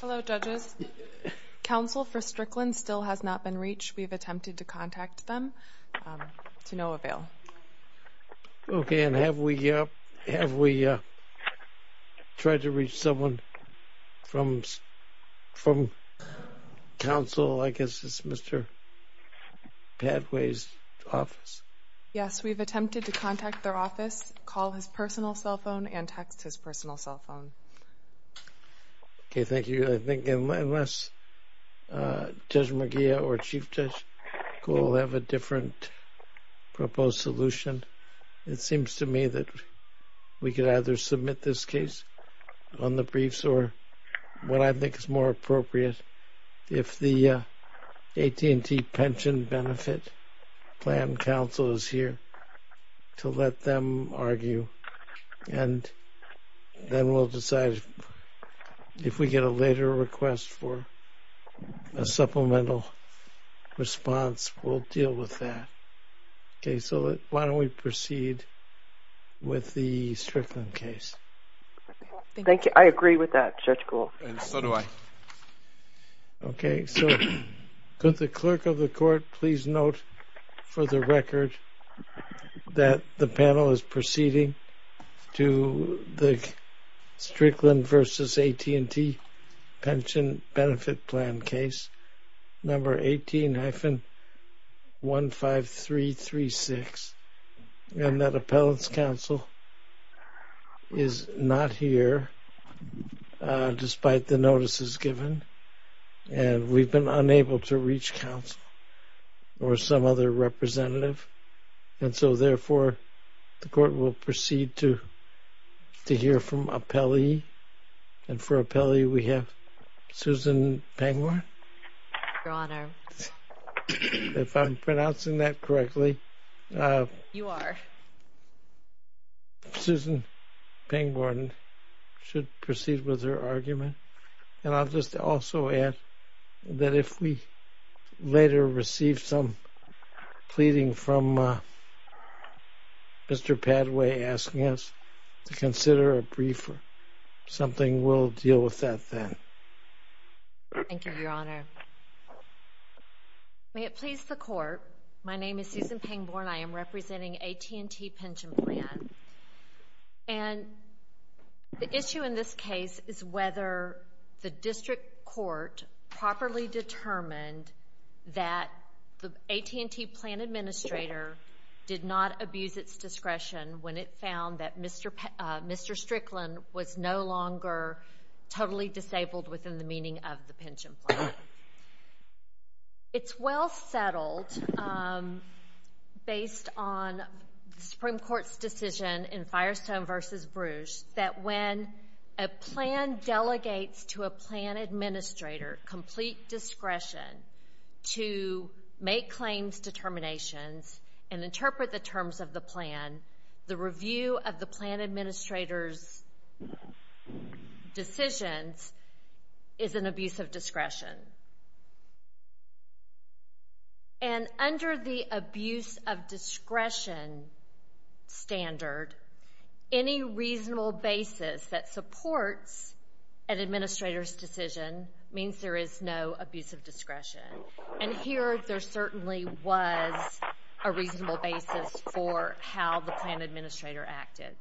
Hello judges. Counsel for Strickland still has not been reached. We've attempted to contact them to no avail. Okay and have we have we tried to reach someone from from counsel I guess it's Mr. Padway's office. Yes we've attempted to contact their office, call his personal cell phone, and text his Okay thank you. I think unless Judge McGeough or Chief Judge Kuhl have a different proposed solution it seems to me that we could either submit this case on the briefs or what I think is more appropriate if the AT&T Pension Benefit Plan counsel is here to let them argue and then we'll decide if we get a later request for a supplemental response we'll deal with that. Okay so why don't we proceed with the Strickland case. Thank you I agree with that Judge Kuhl. And so do I. Okay so could the clerk of the court please note for the record that the panel is proceeding to the Strickland v. AT&T Pension Benefit Plan case number 18-15336 and that appellant's counsel is not here despite the notices given and we've been unable to reach counsel or some other representative and so therefore the court will proceed to to hear from appellee and for appellee we have Susan Pangborn. If I'm pronouncing that correctly. You are. Susan Pangborn should proceed with her argument and I'll just also add that if we later receive some pleading from Mr. Padway asking us to consider a brief something we'll deal with that then. Thank you your honor. May it please the court my name is Susan Pangborn I am representing AT&T Pension Plan and the issue in this case is whether the district court properly determined that the AT&T plan administrator did not abuse its discretion when it found that Mr. Strickland was no longer totally disabled within the meaning of the pension plan. It's well settled um based on the supreme court's decision in Firestone versus Bruges that when a plan delegates to a plan administrator complete discretion to make claims determinations and interpret the terms of the plan the review of the plan administrator's decisions is an abuse of discretion. And under the abuse of discretion standard any reasonable basis that supports an administrator's decision means there is no abuse of discretion and here there certainly was a reasonable basis for how the plan administrator acted.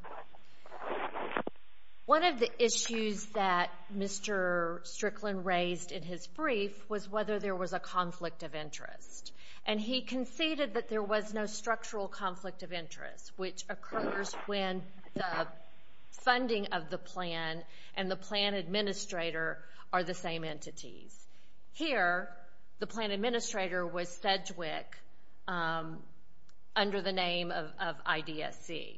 One of the issues that Mr. Strickland raised in his brief was whether there was a conflict of interest and he conceded that there was no structural conflict of interest which occurs when the funding of the plan and the plan administrator are the same entities. Here the plan administrator was Sedgwick um under the name of IDSC.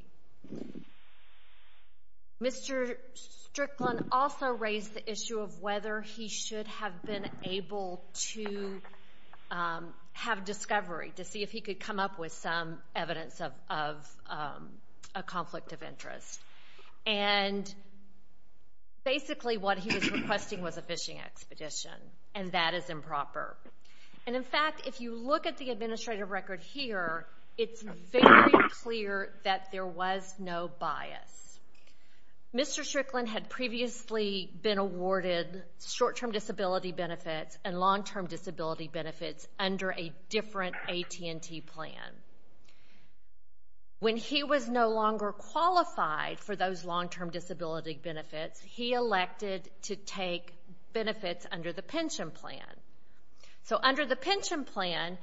Mr. Strickland also raised the issue of whether he should have been able to have discovery to see if he could come up with some evidence of a conflict of interest and basically what he was requesting was a fishing expedition and that is improper and in fact if you look at the administrative record here it's very clear that there was no bias. Mr. Strickland had previously been awarded short term disability benefits and long term disability benefits under a different AT&T plan. When he was no longer qualified for those long term benefits he elected to take benefits under the pension plan. So under the pension plan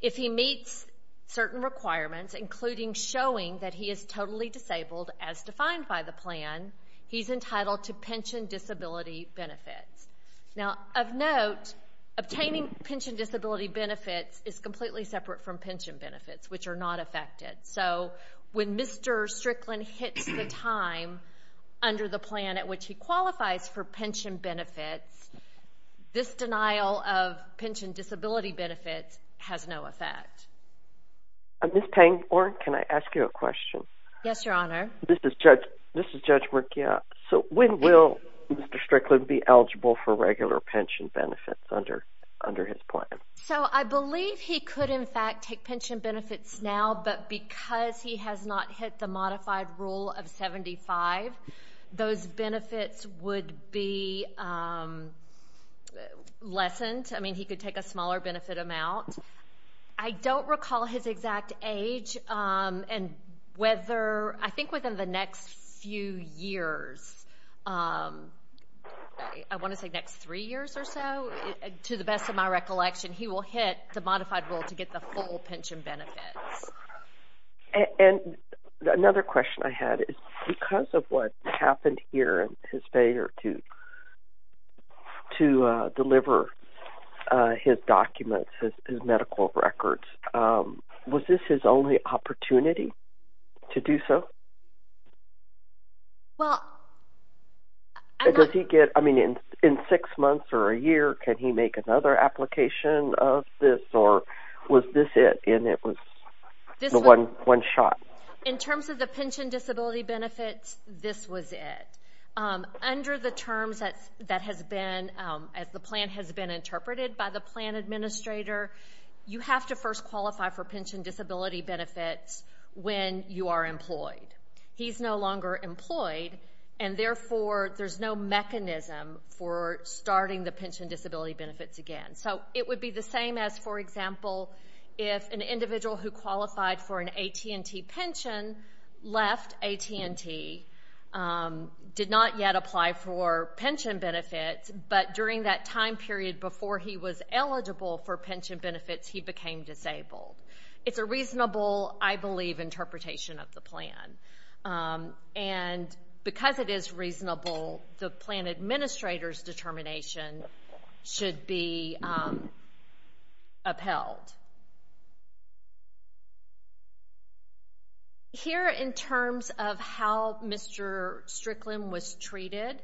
if he meets certain requirements including showing that he is totally disabled as defined by the plan he's entitled to pension disability benefits. Now of note obtaining pension disability benefits is completely separate from pension benefits which are not affected so when Mr. Strickland hits the time under the plan at which he qualifies for pension benefits this denial of pension disability benefits has no effect. Ms. Pangborn can I ask you a question? Yes your honor. This is Judge Murkia. So when will Mr. Strickland be eligible for regular pension benefits under his plan? So I believe he could in fact take pension benefits now but because he has not hit the modified rule of 75 those benefits would be lessened. I mean he could take a smaller benefit amount. I don't recall his exact age and whether I think within the next few years I want to say next three years or so to the best of my recollection he will hit the modified rule to get the full pension benefits. And another question I had is because of what happened here in his failure to deliver his documents, his medical records, was this his only opportunity to do so? Well does he get, I mean in six months or a year can he make another application of this or was this it and it was one shot? In terms of the pension disability benefits this was it. Under the terms that has been as the plan has been interpreted by the plan administrator you have to first qualify for pension disability benefits when you are employed. He's no longer employed and therefore there's no mechanism for starting the pension disability benefits again. So it would be the same as for example if an individual who qualified for an AT&T pension left AT&T, did not yet apply for pension benefits but during that time period before he was eligible for pension benefits he became disabled. It's a reasonable I believe interpretation of the plan and because it is reasonable the plan administrator's determination should be upheld. Here in terms of how Mr. Strickland was treated,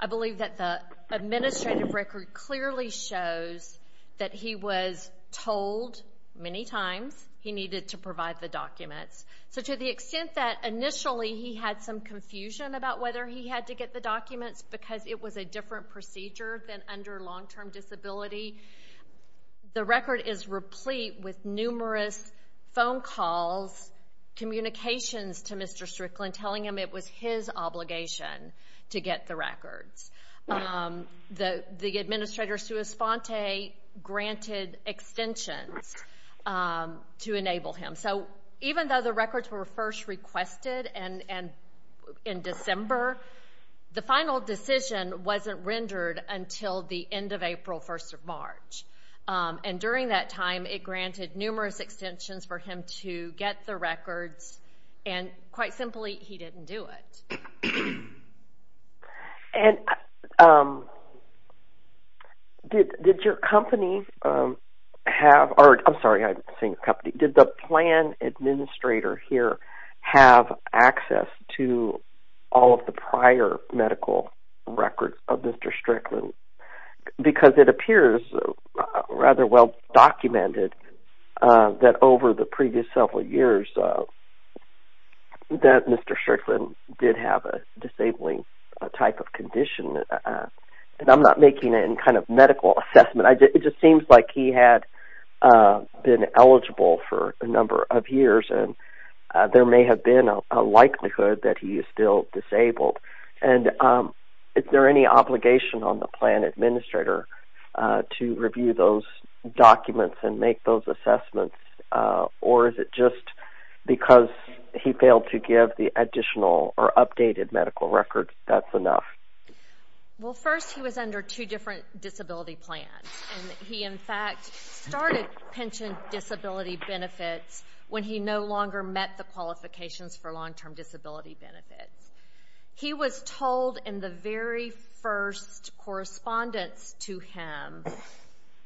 I believe that the administrative record clearly shows that he was told many times he needed to provide the documents. So to the extent that initially he had some confusion about whether he had to get the documents because it was a different procedure than under long-term disability, the record is replete with numerous phone calls, communications to Mr. Strickland telling him it was his obligation to get the records. The administrator, Sue Esponte, granted extensions to enable him. So even though the records were first requested and in December, the final decision wasn't rendered until the end of April, 1st of March and during that time it granted numerous extensions for him to get the records and quite simply he didn't do it. Did the plan administrator here have access to all of the prior medical records of Mr. Strickland? Because it appears rather well documented that over the previous several years that Mr. Strickland did have a disabling type of condition. I'm not making any kind of medical assessment. It just seems like he had been eligible for a number of years and there may have been a likelihood that he is still disabled. Is there any obligation on the plan administrator to review those documents and make those assessments or is it just because he failed to give the additional or updated medical records that's enough? Well first he was under two different disability plans and he in fact started pension disability benefits when he no longer met the qualifications for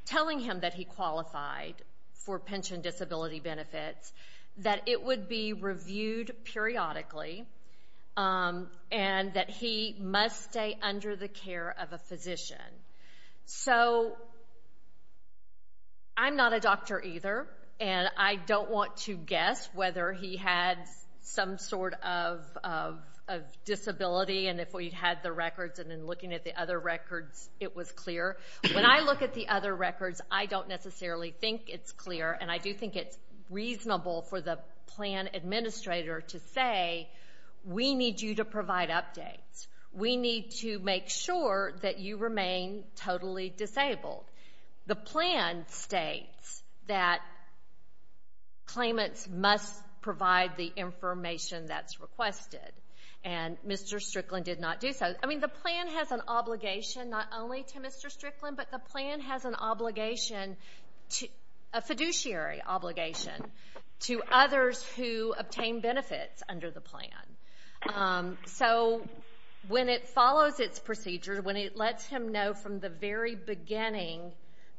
telling him that he qualified for pension disability benefits that it would be reviewed periodically and that he must stay under the care of a physician. So I'm not a doctor either and I don't want to guess whether he had some sort of disability and if we had the records and then looking at the other records it was clear. When I look at the other records I don't necessarily think it's clear and I do think it's reasonable for the plan administrator to say we need you to provide updates. We need to make sure that you remain totally disabled. The plan states that claimants must provide the information that's requested and Mr. Strickland did not do so. I mean the plan has an obligation not only to Mr. Strickland but the plan has an obligation to a fiduciary obligation to others who obtain benefits under the plan. So when it follows its procedure when it lets him know from the very beginning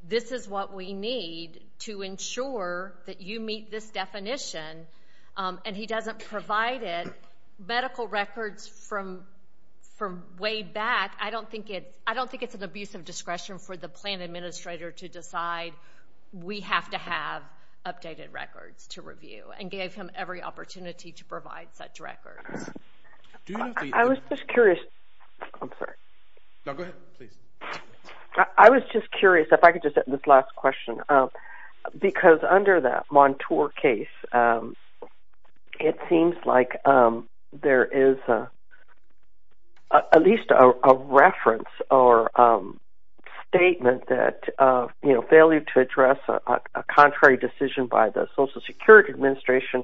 this is what we need to ensure that meet this definition and he doesn't provide it medical records from way back I don't think it's an abuse of discretion for the plan administrator to decide we have to have updated records to review and gave him every opportunity to provide such records. I was just curious if I could just this last question because under that Montour case it seems like there is at least a reference or statement that you know failure to address a contrary decision by the Social Security Administration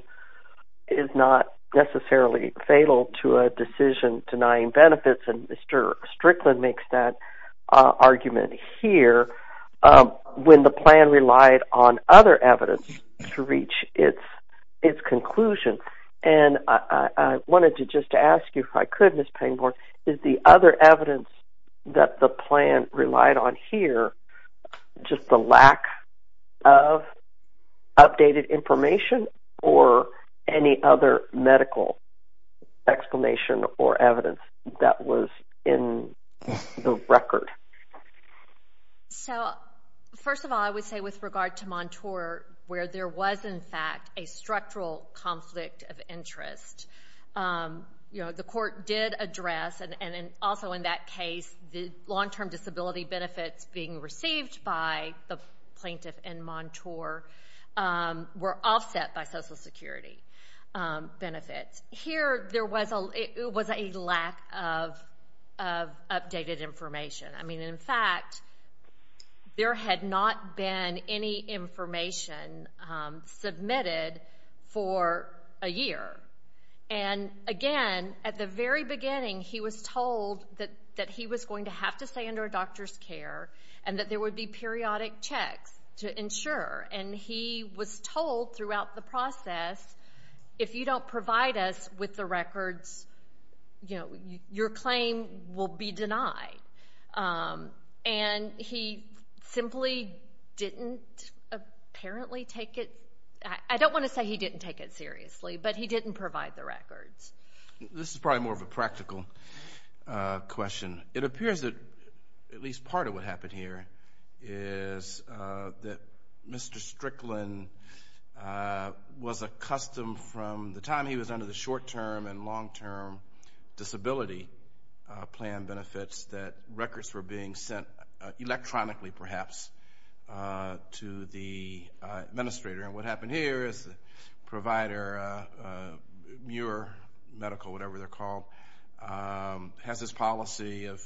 is not necessarily fatal to a decision denying benefits and Mr. Strickland makes that argument here when the plan relied on other evidence to reach its conclusion. And I wanted to just ask you if I could Ms. Payne-Born is the other evidence that the plan relied on here just the lack of updated information or any other medical explanation or evidence that was in the record? So first of all I would say with regard to Montour where there was in fact a structural conflict of interest you know the court did address and also in that case the long-term disability benefits being received by the plaintiff and Montour were offset by Social Security's lack of updated information. I mean in fact there had not been any information submitted for a year and again at the very beginning he was told that he was going to have to stay under a doctor's care and that there would be periodic checks to ensure and he was told throughout the process if you don't provide us with the records you know your claim will be denied. And he simply didn't apparently take it I don't want to say he didn't take it seriously but he didn't provide the records. This is probably more of a practical question it appears that at is that Mr. Strickland was accustomed from the time he was under the short-term and long-term disability plan benefits that records were being sent electronically perhaps to the administrator and what happened here is the provider Muir Medical whatever they're called has this policy of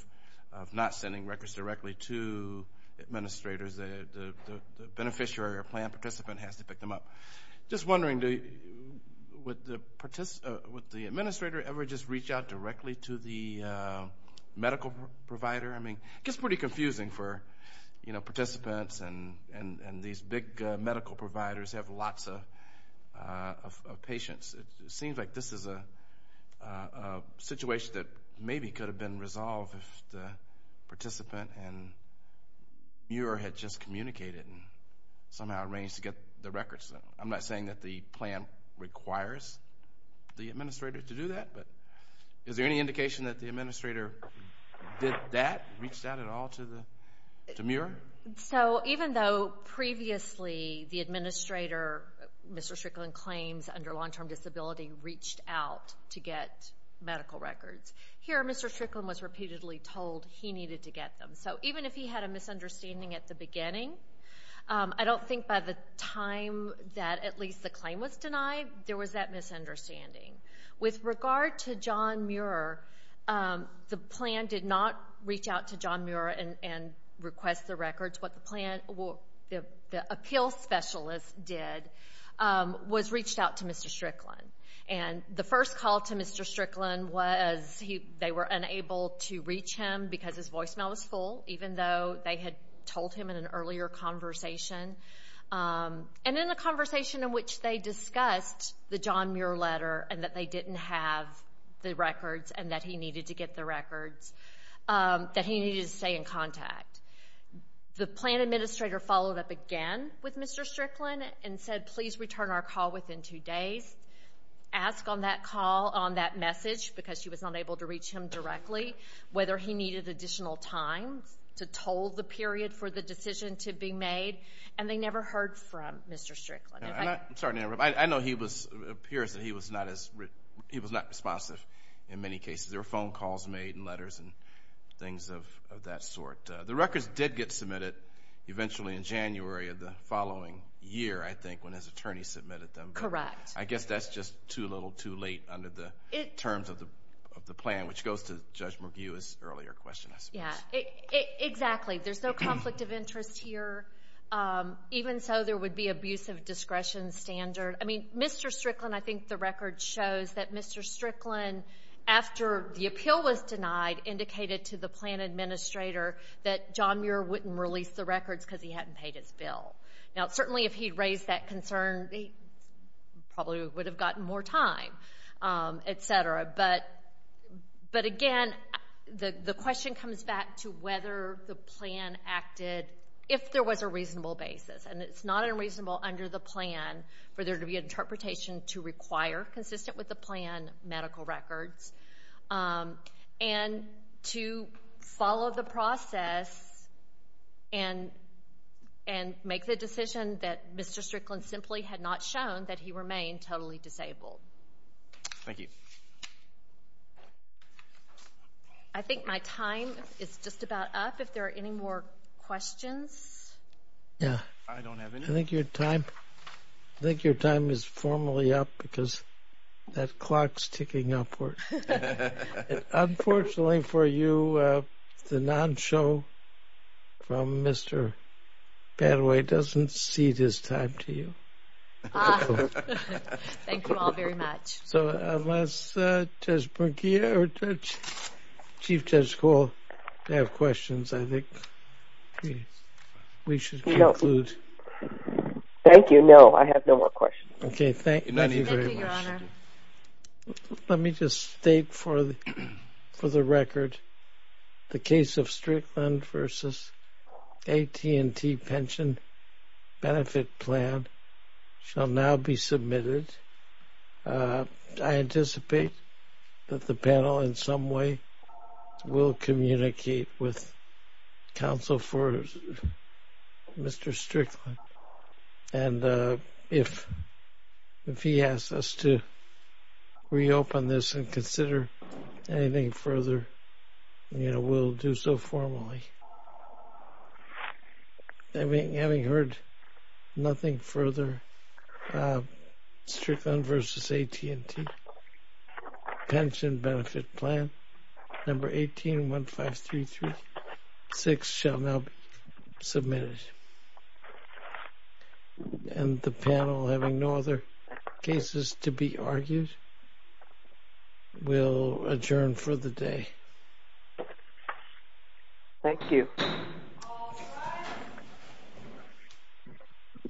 not sending records directly to administrators. The beneficiary or plan participant has to pick them up. Just wondering would the administrator ever just reach out directly to the medical provider? I mean it gets pretty confusing for you know participants and these big medical providers have lots of patients. It seems like this is a situation that maybe could have been resolved if the participant and Muir had just communicated and somehow arranged to get the records. I'm not saying that the plan requires the administrator to do that but is there any indication that the administrator did that reached out at all to the Muir? So even though previously the administrator Mr. Strickland claims under long-term disability reached out to get medical records here Mr. Strickland was repeatedly told he needed to get them. So even if he had a misunderstanding at the beginning I don't think by the time that at least the claim was denied there was that misunderstanding. With regard to John Muir the plan did not reach out to John Muir and request the records. What the plan or the appeal specialist did was reached out to Mr. Strickland. And the first call to Mr. Strickland was he they were unable to reach him because his voicemail was full even though they had told him in an earlier conversation. And in a conversation in which they discussed the John didn't have the records and that he needed to get the records that he needed to stay in contact. The plan administrator followed up again with Mr. Strickland and said please return our call within two days. Ask on that call on that message because she was unable to reach him directly whether he needed additional time to told the period for the decision to be made. And they never heard from Mr. Strickland. I'm sorry to interrupt I know he was appears that he was not he was not responsive in many cases. There were phone calls made and letters and things of that sort. The records did get submitted eventually in January of the following year I think when his attorney submitted them. Correct. I guess that's just too little too late under the terms of the of the plan which goes to Judge McGue's earlier question I suppose. Yeah exactly there's no conflict of interest here even so there would be abusive discretion standard. I mean Mr. Strickland I think the record shows that Mr. Strickland after the appeal was denied indicated to the plan administrator that John Muir wouldn't release the records because he hadn't paid his bill. Now certainly if he'd raised that concern they probably would have gotten more time etc. But but again the the question comes back to whether the plan acted if there was a reasonable basis and it's not unreasonable under the plan for there to be interpretation to require consistent with the plan medical records and to follow the process and and make the decision that Mr. Strickland simply had not shown that he remained totally disabled. Thank you. I think my time is just about up if there are any more questions. Yeah I don't have any. I think your time I think your time is formally up because that clock's ticking upward. Unfortunately for you the non-show from Mr. Badaway doesn't cede his time to you. Ah thank you all very much. So unless Judge Borgia or Chief Judge Cole have questions I think we should conclude. Thank you no I have no more questions. Okay thank you very much. Let me just state for the for the record the case of Strickland versus AT&T pension benefit plan shall now be submitted. I anticipate that the panel in some way will communicate with counsel for Mr. Strickland and if if he asks us to reopen this and consider anything further you know we'll do so formally. I mean having heard nothing further uh Strickland versus AT&T pension benefit plan number 1815336 shall now be submitted. And the panel having no other cases to be argued will adjourn for the day. Thank you.